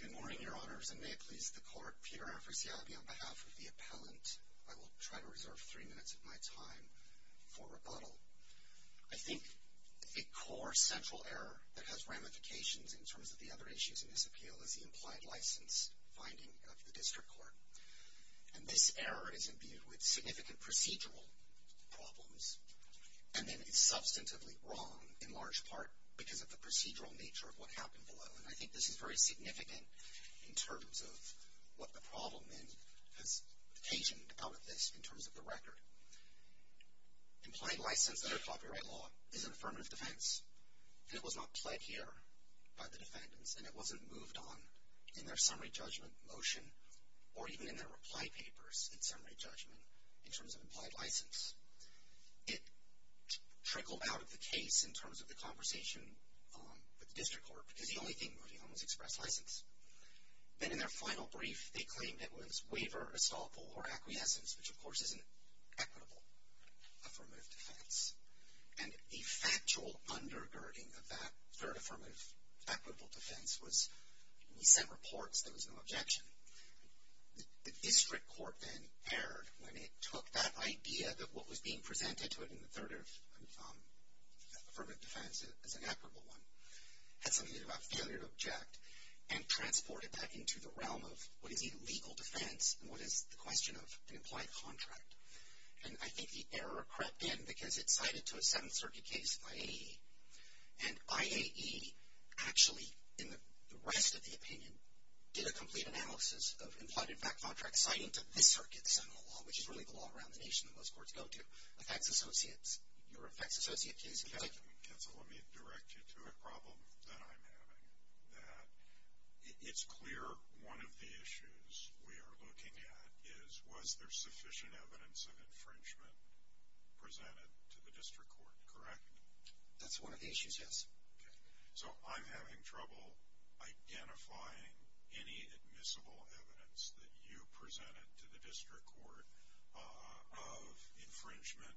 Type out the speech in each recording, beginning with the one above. Good morning, Your Honors, and may it please the Court, Peter Afrisiabi, on behalf of the appellant, I will try to reserve three minutes of my time for rebuttal. I think a core central error that has ramifications in terms of the other issues in this appeal is the implied license finding of the District Court. And this error is imbued with significant procedural problems, and then is substantively wrong in large part because of the procedural nature of what happened below. And I think this is very significant in terms of what the problem then has occasioned out of this in terms of the record. Implied license under copyright law is an affirmative defense, and it was not pled here by the defendants, and it wasn't moved on in their summary judgment motion, or even in their reply papers in summary judgment in terms of implied license. It trickled out of the case in terms of the conversation with the District Court because the only thing moving on was express license. Then in their final brief, they claimed it was waiver, estoppel, or acquiescence, which of course is an equitable affirmative defense. And the factual undergirding of that third affirmative equitable defense was we sent reports, there was no objection. The District Court then erred when it took that idea that what was being presented to it in the third affirmative defense as an equitable one, had something to do about failure to object, and transported that into the realm of what is a legal defense, and what is the question of an implied contract. And I think the error crept in because it cited to a Seventh Circuit case of IAE, and IAE actually, in the rest of the opinion, did a complete analysis of implied contract citing to this circuit, the Senate law, which is really the law around the nation that most courts go to, effects associates. Your effects associate case. Let me direct you to a problem that I'm having. It's clear one of the issues we are looking at is was there sufficient evidence of infringement presented to the District Court, correct? That's one of the issues, yes. So I'm having trouble identifying any admissible evidence that you presented to the District Court of infringement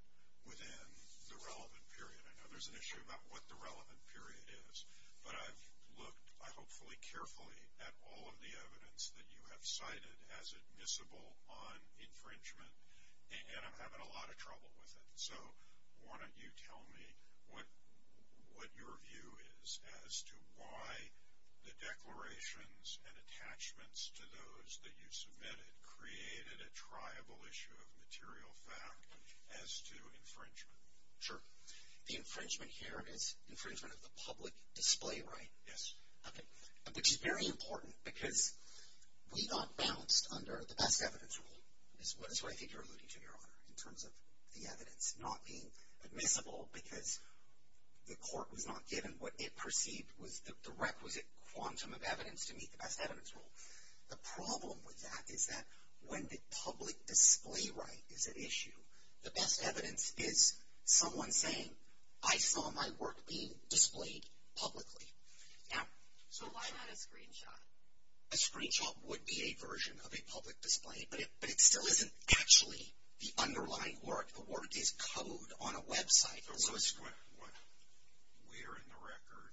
within the relevant period. I know there's an issue about what the relevant period is, but I've looked hopefully carefully at all of the evidence that you have cited as admissible on infringement, and I'm having a lot of trouble with it. So why don't you tell me what your view is as to why the declarations and attachments to those that you submitted created a triable issue of material fact as to infringement? Sure. The infringement here is infringement of the public display right. Yes. Okay. Which is very important because we got balanced under the best evidence rule is what I think you're alluding to, Your Honor, in terms of the evidence not being admissible because the court was not given what it perceived was the requisite quantum of evidence to meet the best evidence rule. The problem with that is that when the public display right is an issue, the best evidence is someone saying, I saw my work being displayed publicly. So why not a screenshot? A screenshot would be a version of a public display, but it still isn't actually the underlying work. The work is code on a website. Where in the record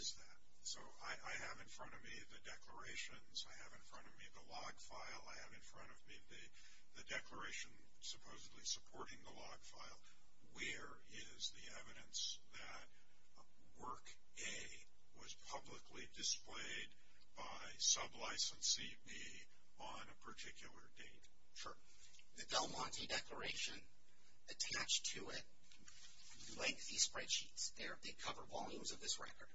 is that? So I have in front of me the declarations. I have in front of me the log file. I have in front of me the declaration supposedly supporting the log file. Where is the evidence that work A was publicly displayed by sub-licensee B on a particular date? Sure. The Del Monte Declaration attached to it lengthy spreadsheets. They cover volumes of this record.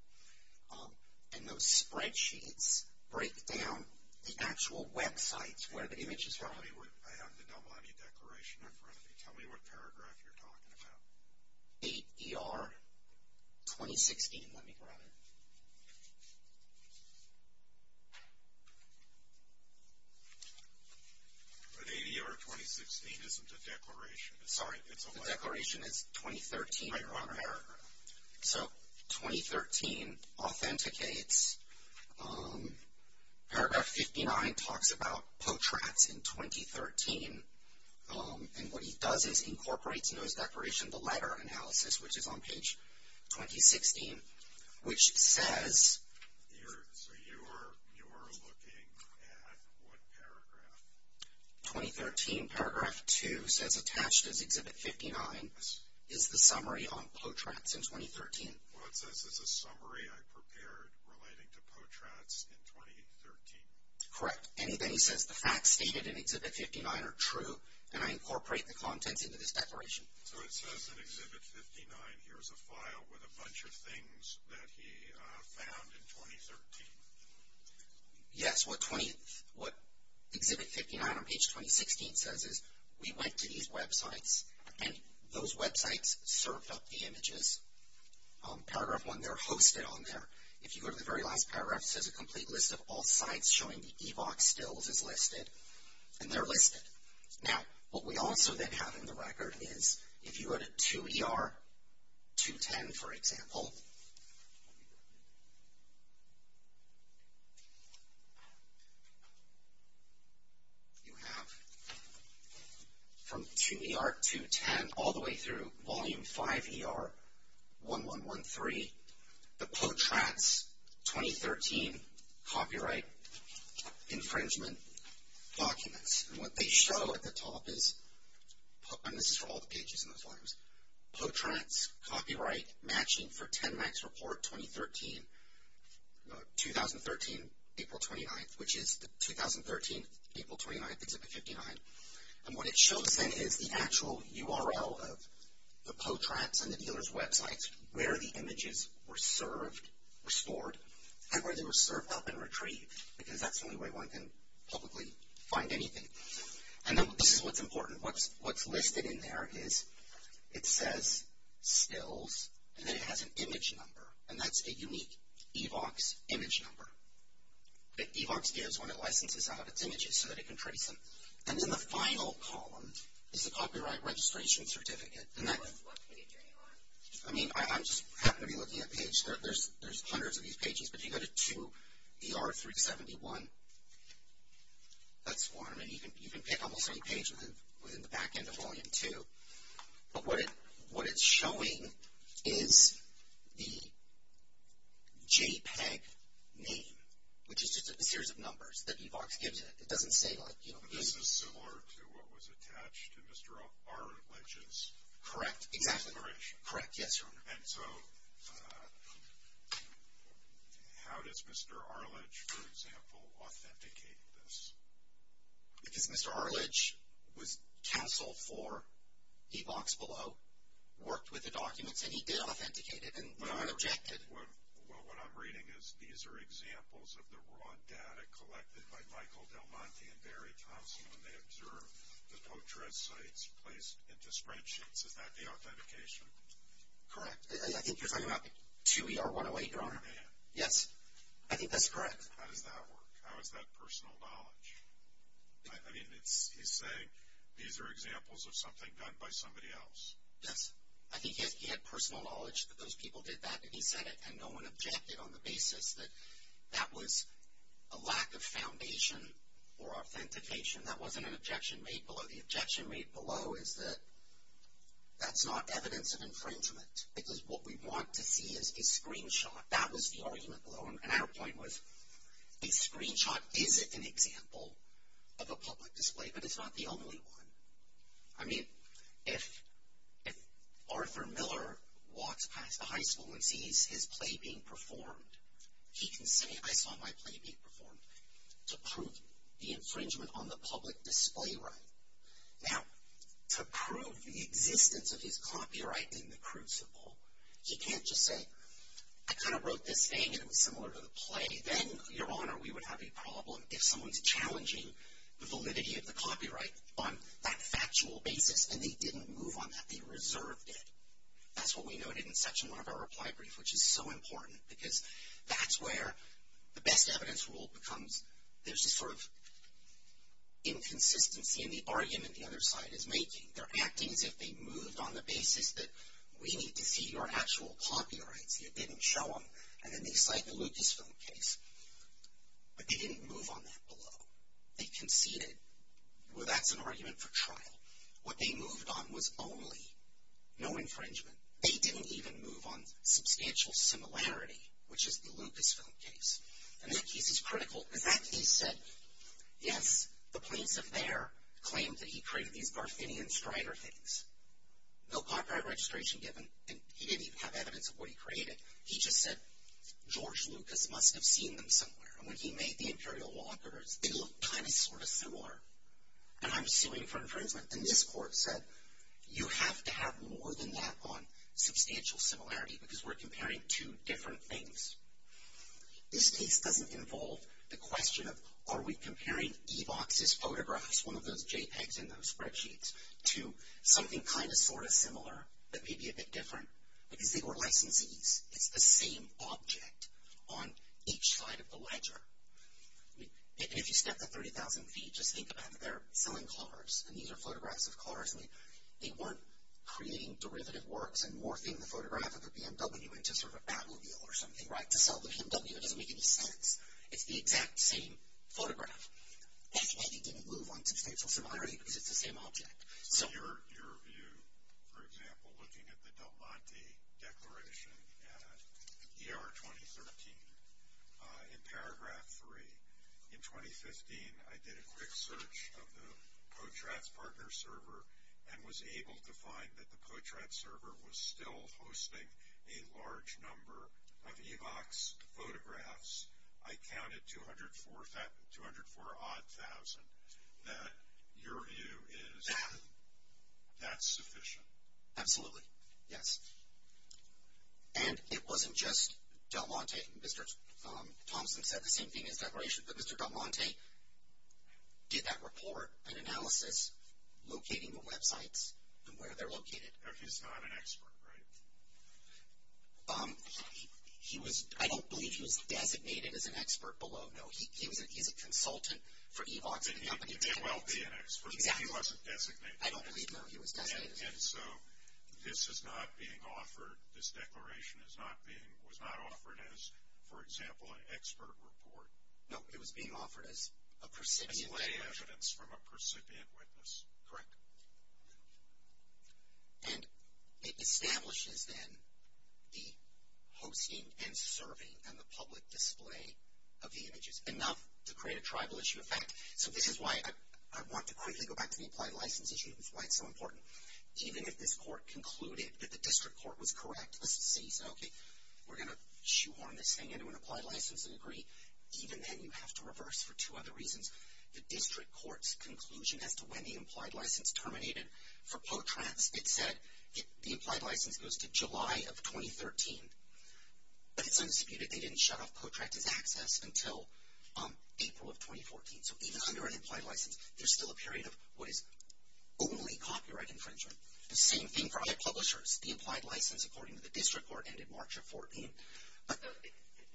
And those spreadsheets break down the actual websites where the image is from. I have the Del Monte Declaration in front of me. Tell me what paragraph you're talking about. ADR 2016. Let me grab it. But ADR 2016 isn't a declaration. Sorry. It's a letter. The declaration is 2013. Right. You're on a paragraph. So 2013 authenticates. Paragraph 59 talks about portraits in 2013. And what he does is incorporates into his declaration the letter analysis, which is on page 2016, which says. So you are looking at what paragraph? 2013. Paragraph 2 says attached is Exhibit 59 is the summary on portraits in 2013. Well, it says it's a summary I prepared relating to portraits in 2013. Correct. And then he says the facts stated in Exhibit 59 are true, and I incorporate the contents into this declaration. So it says in Exhibit 59 here is a file with a bunch of things that he found in 2013. Yes. What Exhibit 59 on page 2016 says is we went to these websites, and those websites served up the images. Paragraph 1, they're hosted on there. If you go to the very last paragraph, it says a complete list of all sites showing the EVOC stills is listed, and they're listed. Now, what we also then have in the record is if you go to 2 ER 210, for example, you have from 2 ER 210 all the way through Volume 5 ER 1113, the portraits 2013 copyright infringement documents. And what they show at the top is, and this is for all the pages in the forms, portraits copyright matching for 10 MAX report 2013, 2013, April 29th, which is the 2013, April 29th, Exhibit 59. And what it shows then is the actual URL of the portraits and the dealer's websites where the images were served, were stored, and where they were served up and retrieved, because that's the only way one can publicly find anything. And this is what's important. What's listed in there is it says stills, and then it has an image number, and that's a unique EVOC's image number. EVOC's gives when it licenses out its images so that it can trace them. And in the final column is the copyright registration certificate. And that's... What page are you on? I mean, I just happen to be looking at pages. There's hundreds of these pages, but if you go to 2 ER 371, that's one. I mean, you can pick almost any page within the back end of Volume 2. But what it's showing is the JPEG name, which is just a series of numbers that EVOC's gives it. It doesn't say, like, you know... This is similar to what was attached to Mr. Arledge's... Correct. Correct. Yes, Your Honor. And so how does Mr. Arledge, for example, authenticate this? Because Mr. Arledge was counsel for EVOC's below, worked with the documents, and he did authenticate it, and no one objected. Well, what I'm reading is these are examples of the raw data collected by Michael Del Monte and Barry Thompson when they observed the portraits sites placed into spreadsheets. Is that the authentication? Correct. I think you're talking about 2 ER 108, Your Honor. Yes. I think that's correct. How does that work? I mean, he's saying these are examples of something done by somebody else. Yes. I think he had personal knowledge that those people did that, and he said it, and no one objected on the basis that that was a lack of foundation or authentication. That wasn't an objection made below. The objection made below is that that's not evidence of infringement, because what we want to see is a screenshot. That was the argument below. And our point was a screenshot is an example of a public display, but it's not the only one. I mean, if Arthur Miller walks past a high school and sees his play being performed, he can say, I saw my play being performed to prove the infringement on the public display right. Now, to prove the existence of his copyright in the crucible, he can't just say, I kind of wrote this thing and it was similar to the play. Then, Your Honor, we would have a problem if someone's challenging the validity of the copyright on that factual basis, and they didn't move on that. They reserved it. That's what we noted in Section 1 of our reply brief, which is so important, because that's where the best evidence rule becomes there's this sort of inconsistency in the argument the other side is making. They're acting as if they moved on the basis that we need to see your actual copyrights. You didn't show them, and then they cite the Lucasfilm case. But they didn't move on that below. They conceded. Well, that's an argument for trial. What they moved on was only no infringement. They didn't even move on substantial similarity, which is the Lucasfilm case. And that case is critical, because that case said, yes, the plaintiff there claimed that he created these Garfinian Strider things. No copyright registration given, and he didn't even have evidence of what he created. He just said, George Lucas must have seen them somewhere. And when he made the Imperial Walkers, they looked kind of sort of similar. And I'm suing for infringement. And this court said, you have to have more than that on substantial similarity, because we're comparing two different things. This case doesn't involve the question of, are we comparing Evox's photographs, one of those JPEGs in those spreadsheets, to something kind of sort of similar that may be a bit different? Because they were licensees. It's the same object on each side of the ledger. And if you step to 30,000 feet, just think about it. They're selling cars, and these are photographs of cars. They weren't creating derivative works and morphing the photograph of a BMW into sort of a Batmobile or something, right? To sell the BMW doesn't make any sense. It's the exact same photograph. That's why they didn't move on substantial similarity, because it's the same object. So. That's sufficient. Absolutely. Yes. And it wasn't just Del Monte. Mr. Thompson said the same thing in his declaration, that Mr. Del Monte did that report and analysis, locating the websites and where they're located. He's not an expert, right? He was, I don't believe he was designated as an expert below, no. He's a consultant for Evox. He may well be an expert. He wasn't designated. I don't believe, no, he was designated. And so, this is not being offered, this declaration is not being, was not offered as, for example, an expert report. No, it was being offered as a percipient. As lay evidence from a percipient witness. Correct. And it establishes, then, the hosting and serving and the public display of the images. Enough to create a tribal issue effect. So, this is why I want to quickly go back to the implied license issue, and why it's so important. Even if this court concluded that the district court was correct, the city said, okay, we're going to shoehorn this thing into an applied license and agree, even then you have to reverse for two other reasons. The district court's conclusion as to when the implied license terminated, for POTRAC it said the implied license goes to July of 2013. But it's undisputed, they didn't shut off POTRAC's access until April of 2014. So, even under an implied license, there's still a period of what is only copyright infringement. The same thing for other publishers. The implied license, according to the district court, ended March of 2014.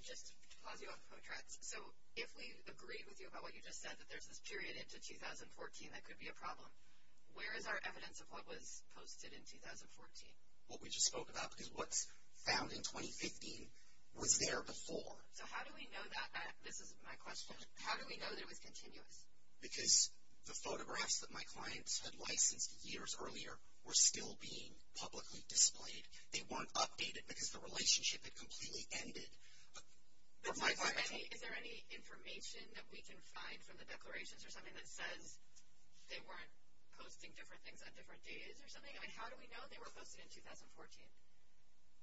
Just to pause you on POTRAC. So, if we agree with you about what you just said, that there's this period into 2014 that could be a problem, where is our evidence of what was posted in 2014? What we just spoke about, because what's found in 2015 was there before. So, how do we know that, this is my question, how do we know that it was continuous? Because the photographs that my clients had licensed years earlier were still being publicly displayed. They weren't updated because the relationship had completely ended. Is there any information that we can find from the declarations or something that says they weren't posting different things on different days or something? I mean, how do we know they were posted in 2014?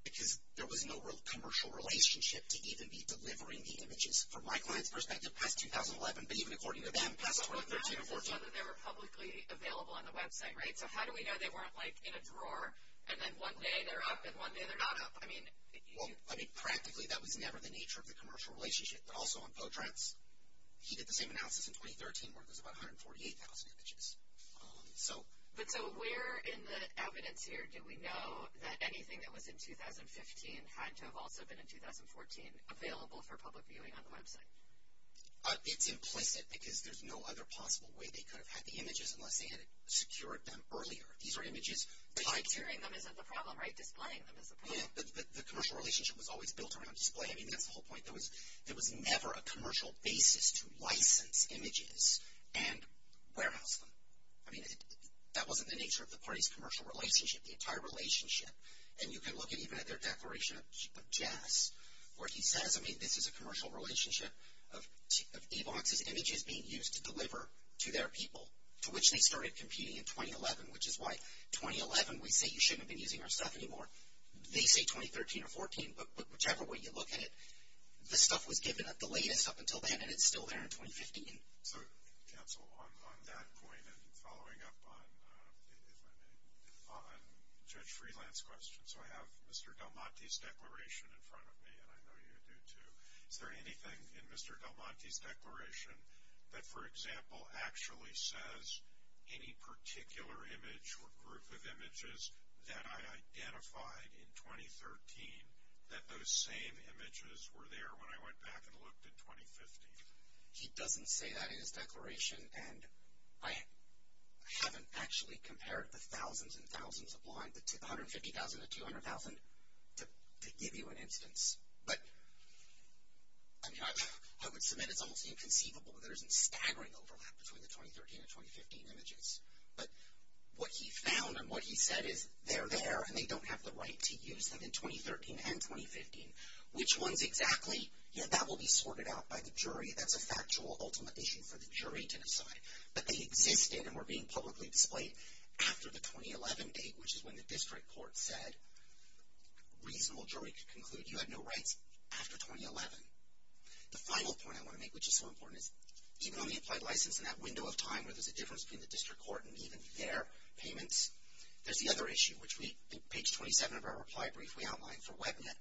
Because there was no commercial relationship to even be delivering the images. From my client's perspective, past 2011, but even according to them, past 2013 or 14. But they were publicly available on the website, right? So, how do we know they weren't, like, in a drawer, and then one day they're up, and one day they're not up? Well, I mean, practically, that was never the nature of the commercial relationship. But also on POTRAC, he did the same analysis in 2013 where there's about 148,000 images. But so, where in the evidence here do we know that anything that was in 2015 had to have also been in 2014 available for public viewing on the website? It's implicit because there's no other possible way they could have had the images unless they had secured them earlier. These are images tied to… Securing them isn't the problem, right? Displaying them is the problem. Yeah, but the commercial relationship was always built around display. I mean, that's the whole point. There was never a commercial basis to license images and warehouse them. I mean, that wasn't the nature of the party's commercial relationship, the entire relationship. And you can look even at their declaration of jazz, where he says, I mean, this is a commercial relationship of AVOX's images being used to deliver to their people, to which they started competing in 2011, which is why 2011, we say you shouldn't have been using our stuff anymore. They say 2013 or 14, but whichever way you look at it, the stuff was given at the latest up until then, and it's still there in 2015. So, counsel, on that point and following up on Judge Freeland's question, so I have Mr. Del Monte's declaration in front of me, and I know you do too. Is there anything in Mr. Del Monte's declaration that, for example, actually says any particular image or group of images that I identified in 2013, that those same images were there when I went back and looked in 2015? He doesn't say that in his declaration, and I haven't actually compared the thousands and thousands of blind, the 150,000 to 200,000 to give you an instance. But, I mean, I would submit it's almost inconceivable that there isn't staggering overlap between the 2013 and 2015 images. But what he found and what he said is they're there, and they don't have the right to use them in 2013 and 2015. Which ones exactly? Yeah, that will be sorted out by the jury. That's a factual ultimatum for the jury to decide. But they existed and were being publicly displayed after the 2011 date, which is when the district court said a reasonable jury could conclude you had no rights after 2011. The final point I want to make, which is so important, is even on the applied license in that window of time where there's a difference between the district court and even their payments, there's the other issue, which page 27 of our reply brief we outlined for WebNet,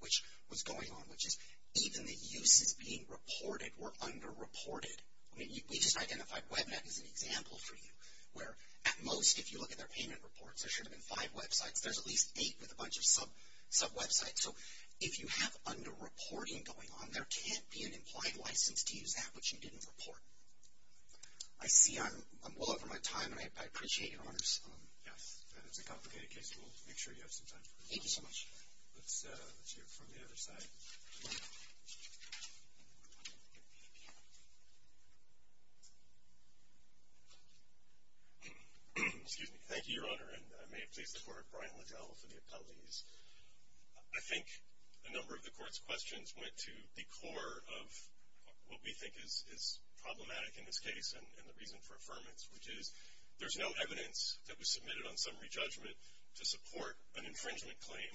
which was going on, which is even the uses being reported were under-reported. I mean, we just identified WebNet as an example for you, where at most if you look at their payment reports, there should have been five websites. There's at least eight with a bunch of sub-websites. So if you have under-reporting going on, there can't be an implied license to use that which you didn't report. I see I'm well over my time, and I appreciate your honors. Yes, and it's a complicated case. We'll make sure you have some time for it. Thank you so much. Let's hear it from the other side. Excuse me. Thank you, Your Honor, and may it please the Court, Brian Legel for the appellees. I think a number of the Court's questions went to the core of what we think is problematic in this case and the reason for affirmance, which is there's no evidence that was submitted on summary judgment to support an infringement claim.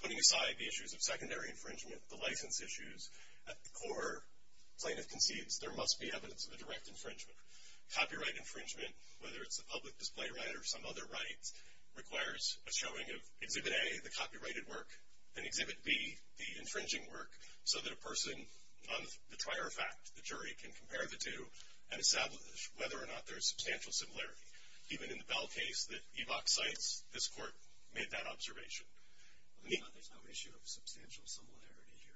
Putting aside the issues of secondary infringement, the license issues, at the core plaintiff concedes there must be evidence of a direct infringement. Copyright infringement, whether it's a public display right or some other right, requires a showing of Exhibit A, the copyrighted work, and Exhibit B, the infringing work, so that a person on the trier of fact, the jury, can compare the two and establish whether or not there's substantial similarity. Even in the Bell case that Evok cites, this Court made that observation. There's no issue of substantial similarity here.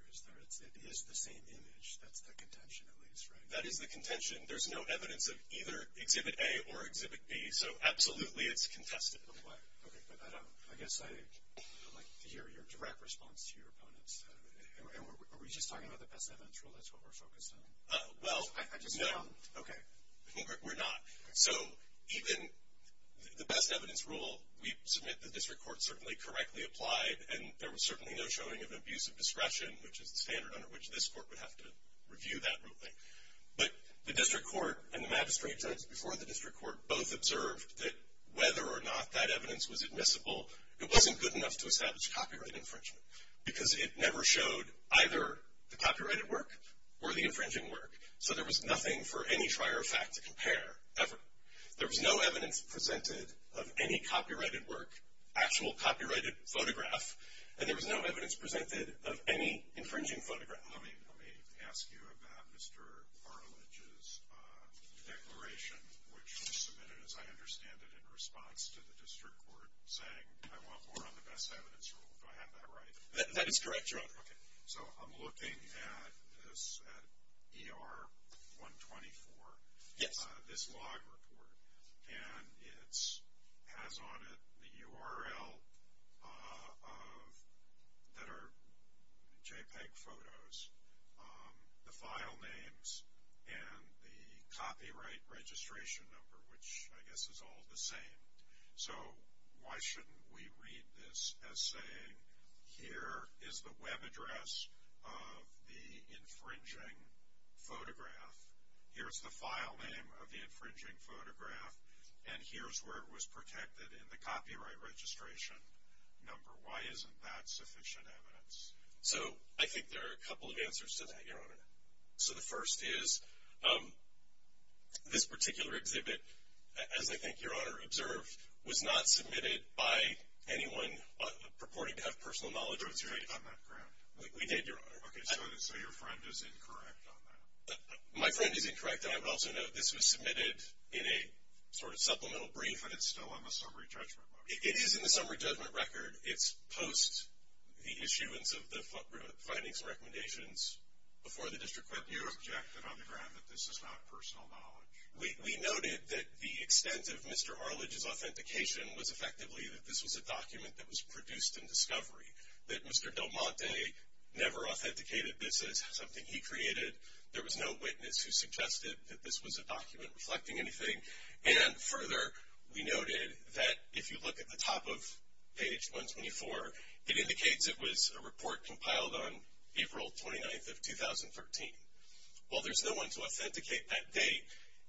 It is the same image. That's the contention, at least, right? That is the contention. There's no evidence of either Exhibit A or Exhibit B, so absolutely it's contested. Okay, but I guess I'd like to hear your direct response to your opponents. Are we just talking about the best evidence rule? That's what we're focused on? Well, no. Okay. We're not. So even the best evidence rule, we submit the District Court certainly correctly applied, and there was certainly no showing of abusive discretion, which is the standard under which this Court would have to review that ruling. But the District Court and the magistrate judge before the District Court both observed that whether or not that evidence was admissible, it wasn't good enough to establish copyright infringement because it never showed either the copyrighted work or the infringing work. So there was nothing for any trier of fact to compare, ever. There was no evidence presented of any copyrighted work, actual copyrighted photograph, and there was no evidence presented of any infringing photograph. Let me ask you about Mr. Bartlidge's declaration, which was submitted, as I understand it, in response to the District Court saying, I want more on the best evidence rule. Do I have that right? That is correct, Your Honor. Okay. So I'm looking at this ER-124. Yes. This log report, and it has on it the URL that are JPEG photos, the file names, and the copyright registration number, which I guess is all the same. So why shouldn't we read this as saying, here is the web address of the infringing photograph. Here is the file name of the infringing photograph, and here is where it was protected in the copyright registration number. Why isn't that sufficient evidence? So I think there are a couple of answers to that, Your Honor. So the first is, this particular exhibit, as I think Your Honor observed, was not submitted by anyone purporting to have personal knowledge of the situation. So it's right on that ground. We did, Your Honor. Okay, so your friend is incorrect on that. My friend is incorrect, and I would also note this was submitted in a sort of supplemental brief. But it's still on the summary judgment record. It is in the summary judgment record. It's post the issuance of the findings and recommendations before the district court. You objected on the ground that this is not personal knowledge. We noted that the extent of Mr. Arledge's authentication was effectively that this was a document that was produced in discovery, that Mr. Del Monte never authenticated this as something he created. There was no witness who suggested that this was a document reflecting anything. And further, we noted that if you look at the top of page 124, it indicates it was a report compiled on April 29th of 2013. While there's no one to authenticate that date,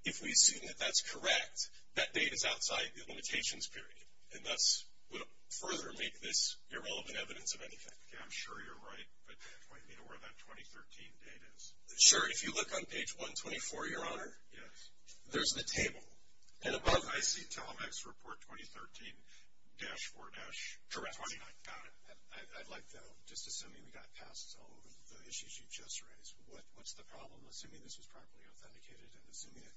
if we assume that that's correct, that date is outside the limitations period, and thus would further make this irrelevant evidence of anything. Okay, I'm sure you're right, but point me to where that 2013 date is. Sure, if you look on page 124, Your Honor, there's the table. And above, I see Telemec's report 2013-4-29. Correct. I'd like to know, just assuming we got passes all over the issues you just raised, what's the problem, assuming this was properly authenticated and assuming it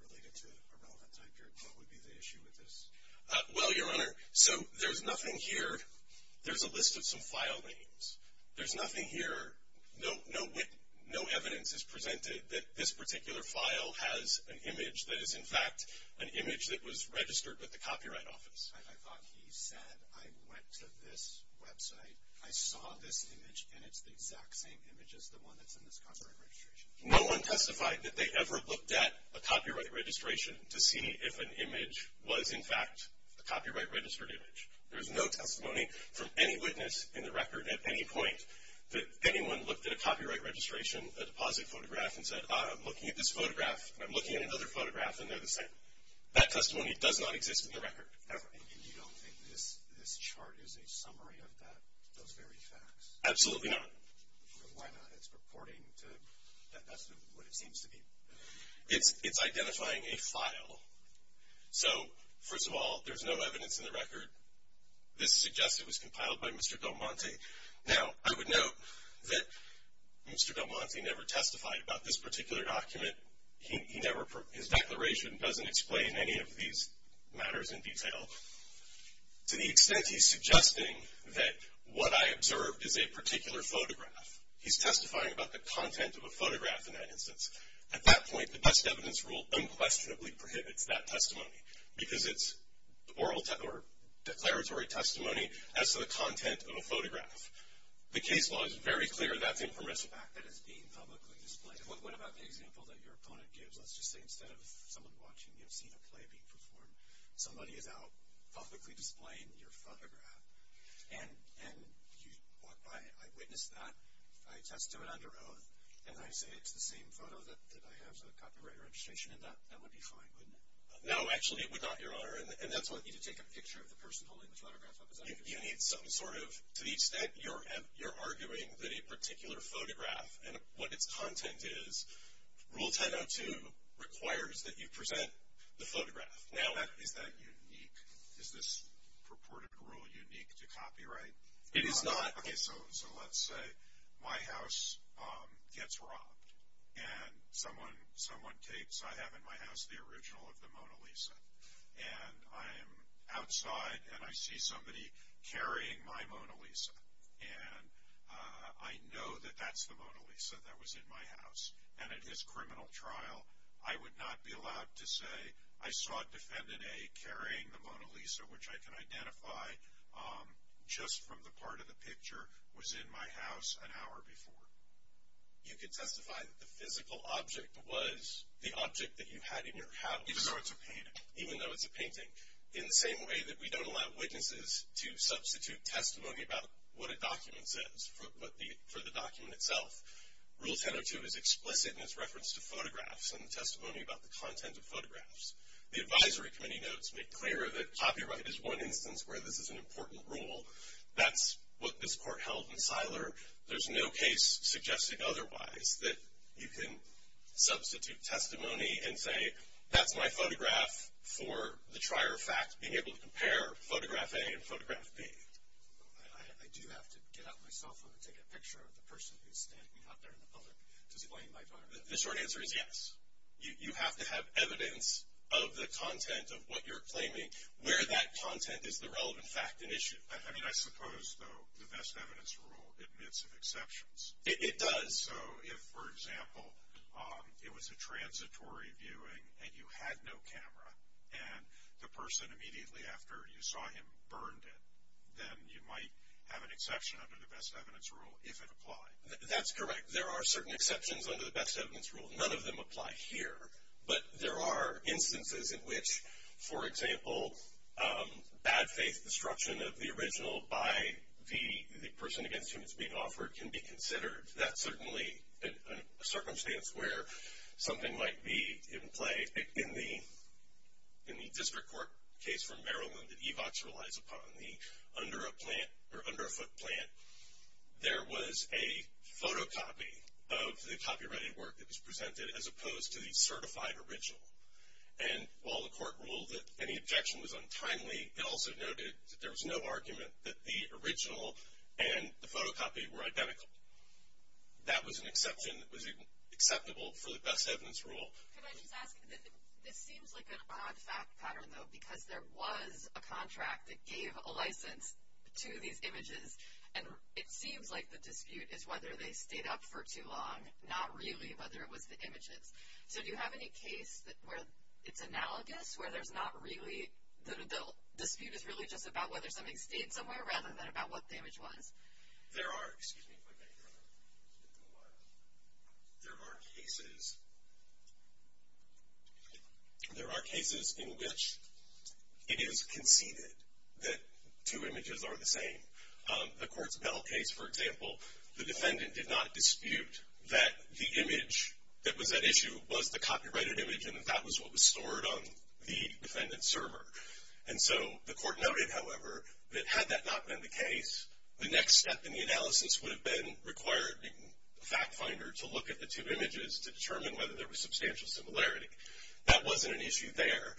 related to a relevant time period, what would be the issue with this? Well, Your Honor, so there's nothing here. There's a list of some file names. There's nothing here. No evidence is presented that this particular file has an image that is, in fact, an image that was registered with the Copyright Office. I thought he said, I went to this website, I saw this image, and it's the exact same image as the one that's in this copyright registration. No one testified that they ever looked at a copyright registration to see if an image was, in fact, a copyright-registered image. There's no testimony from any witness in the record at any point that anyone looked at a copyright registration, a deposit photograph, and said, ah, I'm looking at this photograph, and I'm looking at another photograph, and they're the same. That testimony does not exist in the record, ever. And you don't think this chart is a summary of that, those very facts? Absolutely not. Why not? It's purporting to, that's what it seems to be. It's identifying a file. So, first of all, there's no evidence in the record. This suggests it was compiled by Mr. Del Monte. Now, I would note that Mr. Del Monte never testified about this particular document. His declaration doesn't explain any of these matters in detail. To the extent he's suggesting that what I observed is a particular photograph, he's testifying about the content of a photograph in that instance. At that point, the best evidence rule unquestionably prohibits that testimony, because it's oral or declaratory testimony as to the content of a photograph. The case law is very clear that's impermissible. What about the example that your opponent gives? Let's just say instead of someone watching, you know, seeing a play being performed, somebody is out publicly displaying your photograph, and you walk by it. I witness that. I attest to it under oath. And I say it's the same photo that I have as a copyright registration, and that would be fine, wouldn't it? No, actually, it would not, Your Honor. And that's why I need to take a picture of the person holding the photograph up. You need some sort of, to the extent you're arguing that a particular photograph and what its content is, Rule 1002 requires that you present the photograph. Now, is that unique? Is this purported rule unique to copyright? It is not. Okay, so let's say my house gets robbed, and someone takes, I have in my house the original of the Mona Lisa. And I am outside, and I see somebody carrying my Mona Lisa. And I know that that's the Mona Lisa that was in my house. And at his criminal trial, I would not be allowed to say, I saw Defendant A carrying the Mona Lisa, which I can identify just from the part of the picture, was in my house an hour before. You can testify that the physical object was the object that you had in your house. Even though it's a painting. Even though it's a painting. In the same way that we don't allow witnesses to substitute testimony about what a document says for the document itself. Rule 1002 is explicit in its reference to photographs and the testimony about the content of photographs. The Advisory Committee notes, make clear that copyright is one instance where this is an important rule. That's what this Court held in Siler. There's no case suggesting otherwise that you can substitute testimony and say, that's my photograph for the trier fact being able to compare photograph A and photograph B. I do have to get out my cell phone and take a picture of the person who's standing out there in the public to explain my document. The short answer is yes. You have to have evidence of the content of what you're claiming, where that content is the relevant fact and issue. I mean, I suppose, though, the best evidence rule admits of exceptions. It does. So if, for example, it was a transitory viewing and you had no camera and the person immediately after you saw him burned it, then you might have an exception under the best evidence rule if it applied. That's correct. There are certain exceptions under the best evidence rule. None of them apply here. But there are instances in which, for example, bad faith destruction of the original by the person against whom it's being offered can be considered. That's certainly a circumstance where something might be in play. In the district court case from Maryland that EVOX relies upon, the underfoot plant, there was a photocopy of the copyrighted work that was presented as opposed to the certified original. And while the court ruled that any objection was untimely, it also noted that there was no argument that the original and the photocopy were identical. That was an exception that was acceptable for the best evidence rule. Could I just ask, this seems like an odd fact pattern, though, because there was a contract that gave a license to these images, and it seems like the dispute is whether they stayed up for too long, not really whether it was the images. So do you have any case where it's analogous, where the dispute is really just about whether something stayed somewhere rather than about what the image was? There are cases in which it is conceded that two images are the same. The Courts of Battle case, for example, the defendant did not dispute that the image that was at issue was the copyrighted image and that that was what was stored on the defendant's server. And so the court noted, however, that had that not been the case, the next step in the analysis would have been required the fact finder to look at the two images to determine whether there was substantial similarity. That wasn't an issue there.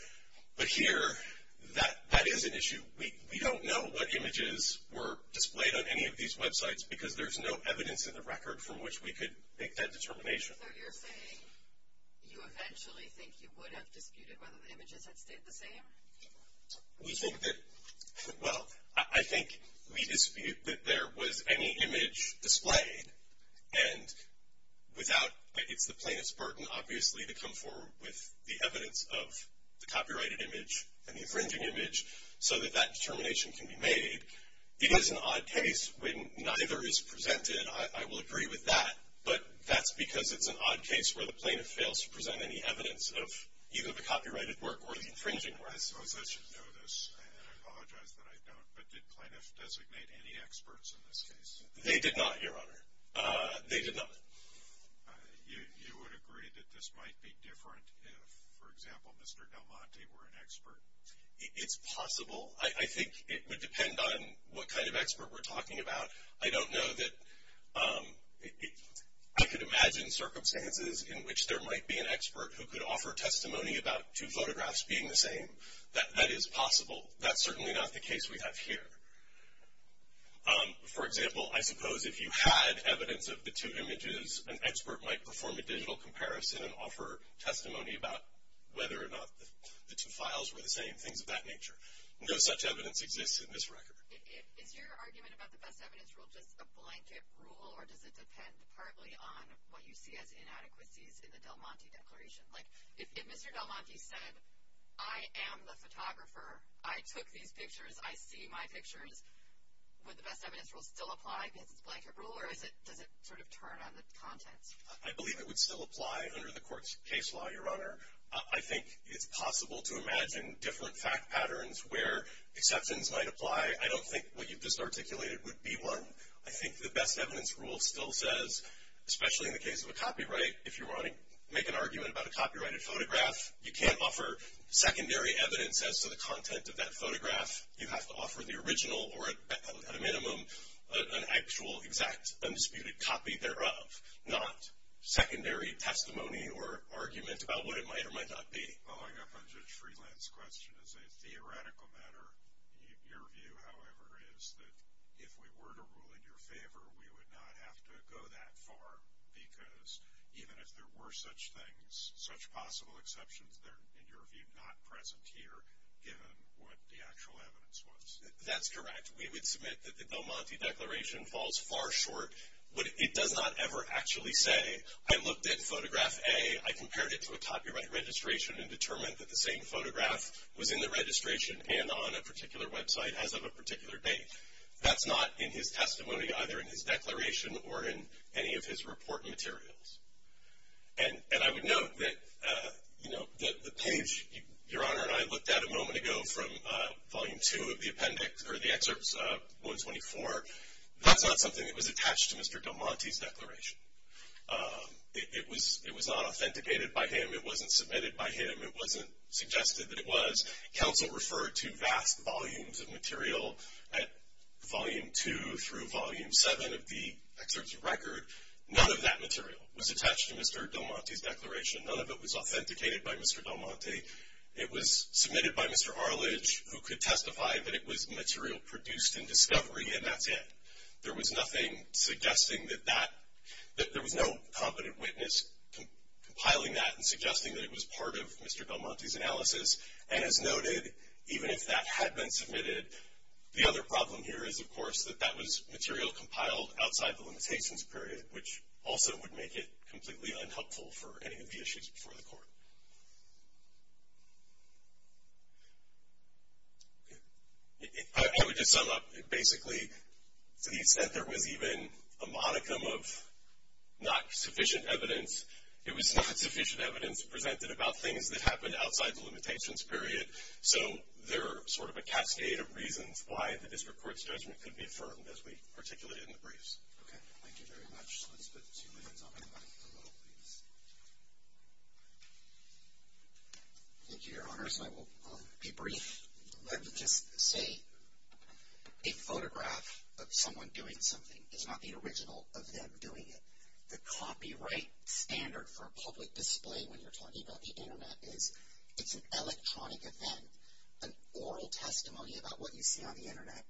But here, that is an issue. We don't know what images were displayed on any of these websites because there's no evidence in the record from which we could make that determination. So you're saying you eventually think you would have disputed whether the images had stayed the same? We think that, well, I think we dispute that there was any image displayed, and without, it's the plaintiff's burden, obviously, to come forward with the evidence of the copyrighted image and the infringing image so that that determination can be made. It is an odd case when neither is presented. I will agree with that, but that's because it's an odd case where the plaintiff fails to present any evidence of either the copyrighted work or the infringing work. I suppose I should know this, and I apologize that I don't, but did plaintiffs designate any experts in this case? They did not, Your Honor. They did not. You would agree that this might be different if, for example, Mr. Del Monte were an expert? It's possible. I think it would depend on what kind of expert we're talking about. I don't know that I could imagine circumstances in which there might be an expert who could offer testimony about two photographs being the same. That is possible. That's certainly not the case we have here. For example, I suppose if you had evidence of the two images, an expert might perform a digital comparison and offer testimony about whether or not the two files were the same, things of that nature. No such evidence exists in this record. Is your argument about the best evidence rule just a blanket rule, or does it depend partly on what you see as inadequacies in the Del Monte Declaration? Like if Mr. Del Monte said, I am the photographer, I took these pictures, I see my pictures, would the best evidence rule still apply because it's a blanket rule, or does it sort of turn on the contents? I believe it would still apply under the court's case law, Your Honor. I think it's possible to imagine different fact patterns where exceptions might apply. I don't think what you've just articulated would be one. I think the best evidence rule still says, especially in the case of a copyright, if you want to make an argument about a copyrighted photograph, you can't offer secondary evidence as to the content of that photograph. You have to offer the original or, at a minimum, an actual, exact, undisputed copy thereof, not secondary testimony or argument about what it might or might not be. Following up on Judge Freeland's question, as a theoretical matter, your view, however, is that if we were to rule in your favor, we would not have to go that far because even if there were such things, such possible exceptions, they're, in your view, not present here given what the actual evidence was. That's correct. We would submit that the Del Monte Declaration falls far short. It does not ever actually say, I looked at photograph A, I compared it to a copyright registration and determined that the same photograph was in the registration and on a particular website as of a particular date. That's not in his testimony, either in his declaration or in any of his report materials. And I would note that the page your Honor and I looked at a moment ago from Volume 2 of the appendix, or the excerpts 124, that's not something that was attached to Mr. Del Monte's declaration. It was not authenticated by him. It wasn't submitted by him. It wasn't suggested that it was. Counsel referred to vast volumes of material at Volume 2 through Volume 7 of the excerpts of record. None of that material was attached to Mr. Del Monte's declaration. None of it was authenticated by Mr. Del Monte. It was submitted by Mr. Arledge, who could testify that it was material produced in discovery, and that's it. There was nothing suggesting that that, there was no competent witness compiling that and suggesting that it was part of Mr. Del Monte's analysis, and as noted, even if that had been submitted, the other problem here is, of course, that that was material compiled outside the limitations period, which also would make it completely unhelpful for any of the issues before the court. I would just sum up. Basically, to the extent there was even a modicum of not sufficient evidence, it was not sufficient evidence presented about things that happened outside the limitations period. So there are sort of a cascade of reasons why the district court's judgment could be affirmed, as we articulated in the briefs. Okay. Thank you very much. Let's put two minutes on that. Michael, please. Thank you, Your Honors. I will be brief. Let me just say, a photograph of someone doing something is not the original of them doing it. The copyright standard for a public display when you're talking about the Internet is, it's an electronic event. An oral testimony about what you see on the Internet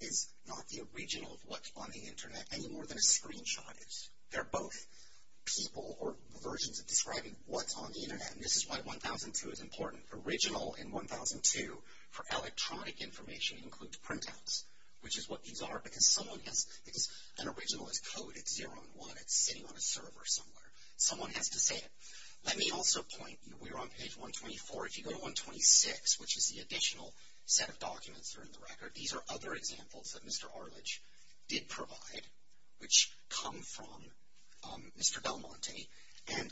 is not the original of what's on the Internet, any more than a screenshot is. They're both people or versions of describing what's on the Internet, and this is why 1002 is important. Original in 1002, for electronic information, includes printouts, which is what these are, because an original is coded 0 and 1. It's sitting on a server somewhere. Someone has to say it. Let me also point, we're on page 124. If you go to 126, which is the additional set of documents that are in the record, these are other examples that Mr. Arledge did provide, which come from Mr. Belmonte, and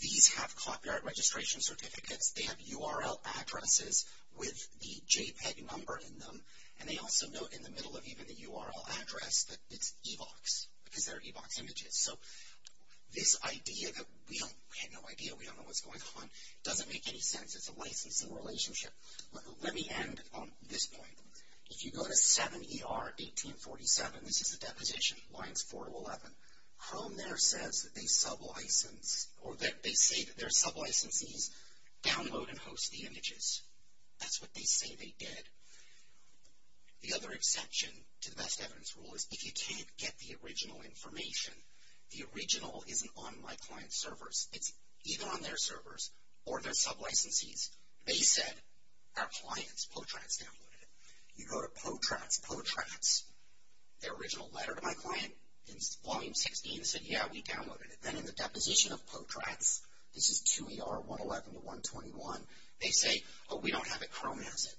these have copyright registration certificates. They have URL addresses with the JPEG number in them, and they also note in the middle of even the URL address that it's EVOX, because they're EVOX images. So this idea that we have no idea, we don't know what's going on, doesn't make any sense. It's a licensing relationship. Let me end on this point. If you go to 7ER 1847, this is a deposition, lines 4 to 11, home there says that they sublicense, or they say that their sublicensees download and host the images. That's what they say they did. The other exception to the best evidence rule is if you can't get the original information, the original isn't on My Client's servers. It's either on their servers or their sublicensees. They said, our clients, Potratz, downloaded it. You go to Potratz, Potratz, their original letter to My Client in volume 16, they said, yeah, we downloaded it. Then in the deposition of Potratz, this is 2ER 111 to 121, they say, oh, we don't have it, Chrome has it.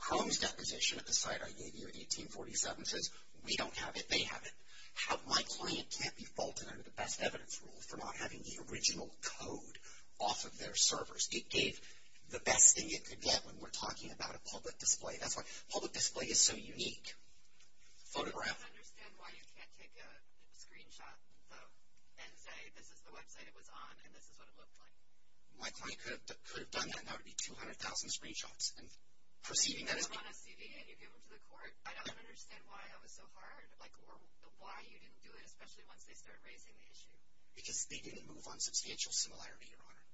Chrome's deposition at the site I gave you at 1847 says, we don't have it, they have it. My Client can't be faulted under the best evidence rule for not having the original code off of their servers. It gave the best thing it could get when we're talking about a public display. That's why public display is so unique. Photograph. I don't understand why you can't take a screenshot and say, this is the website it was on, and this is what it looked like. My Client could have done that, and that would be 200,000 screenshots. And perceiving that as being. You give them to the court. I don't understand why that was so hard, or why you didn't do it, especially once they started raising the issue. Because they didn't move on substantial similarity, Your Honor.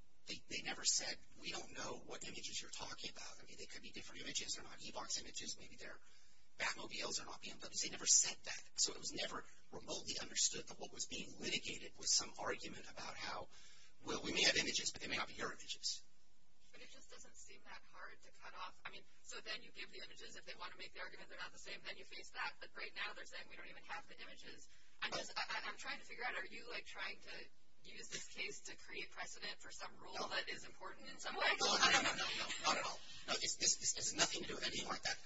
They never said, we don't know what images you're talking about. I mean, they could be different images. They're not Evox images. Maybe they're Batmobiles. They never said that. So it was never remotely understood that what was being litigated was some argument about how, well, we may have images, but they may not be your images. But it just doesn't seem that hard to cut off. I mean, so then you give the images. If they want to make the argument they're not the same, then you face that. But right now they're saying we don't even have the images. I'm trying to figure out, are you like trying to use this case to create precedent for some rule that is important in some way? No, not at all. This has nothing to do with anything like that.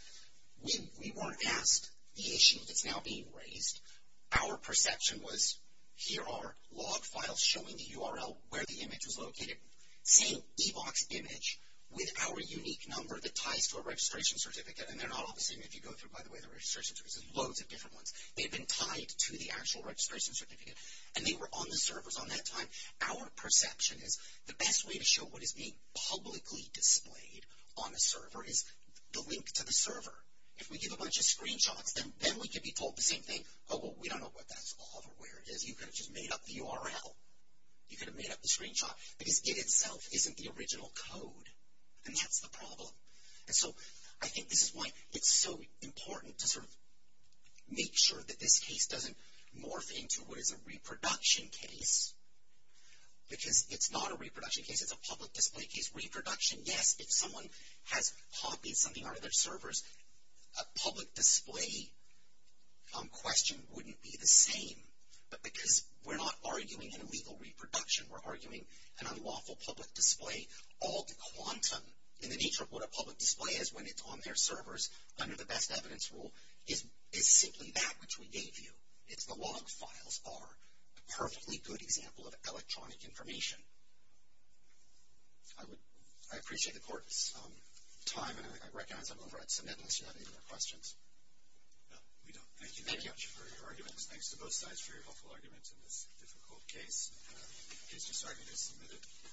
We weren't asked the issue that's now being raised. Our perception was here are log files showing the URL where the image was located. Same Evox image with our unique number that ties to a registration certificate. And they're not all the same if you go through, by the way, the registration certificates. There's loads of different ones. They've been tied to the actual registration certificate. And they were on the servers on that time. Our perception is the best way to show what is being publicly displayed on the server is the link to the server. If we give a bunch of screenshots, then we could be told the same thing. Oh, well, we don't know what that is or where it is. You could have just made up the URL. You could have made up the screenshot. Because it itself isn't the original code. And that's the problem. And so I think this is why it's so important to sort of make sure that this case doesn't morph into what is a reproduction case. Because it's not a reproduction case. It's a public display case. Reproduction, yes, if someone has copied something out of their servers, a public display question wouldn't be the same. But because we're not arguing an illegal reproduction. We're arguing an unlawful public display. Alt quantum, in the nature of what a public display is when it's on their servers, under the best evidence rule, is simply that which we gave you. It's the log files are a perfectly good example of electronic information. I appreciate the court's time. And I recognize I'm over at submit unless you have any more questions. No, we don't. Thank you very much for your arguments. Thanks to both sides for your helpful arguments in this difficult case. In case you're starting to submit it.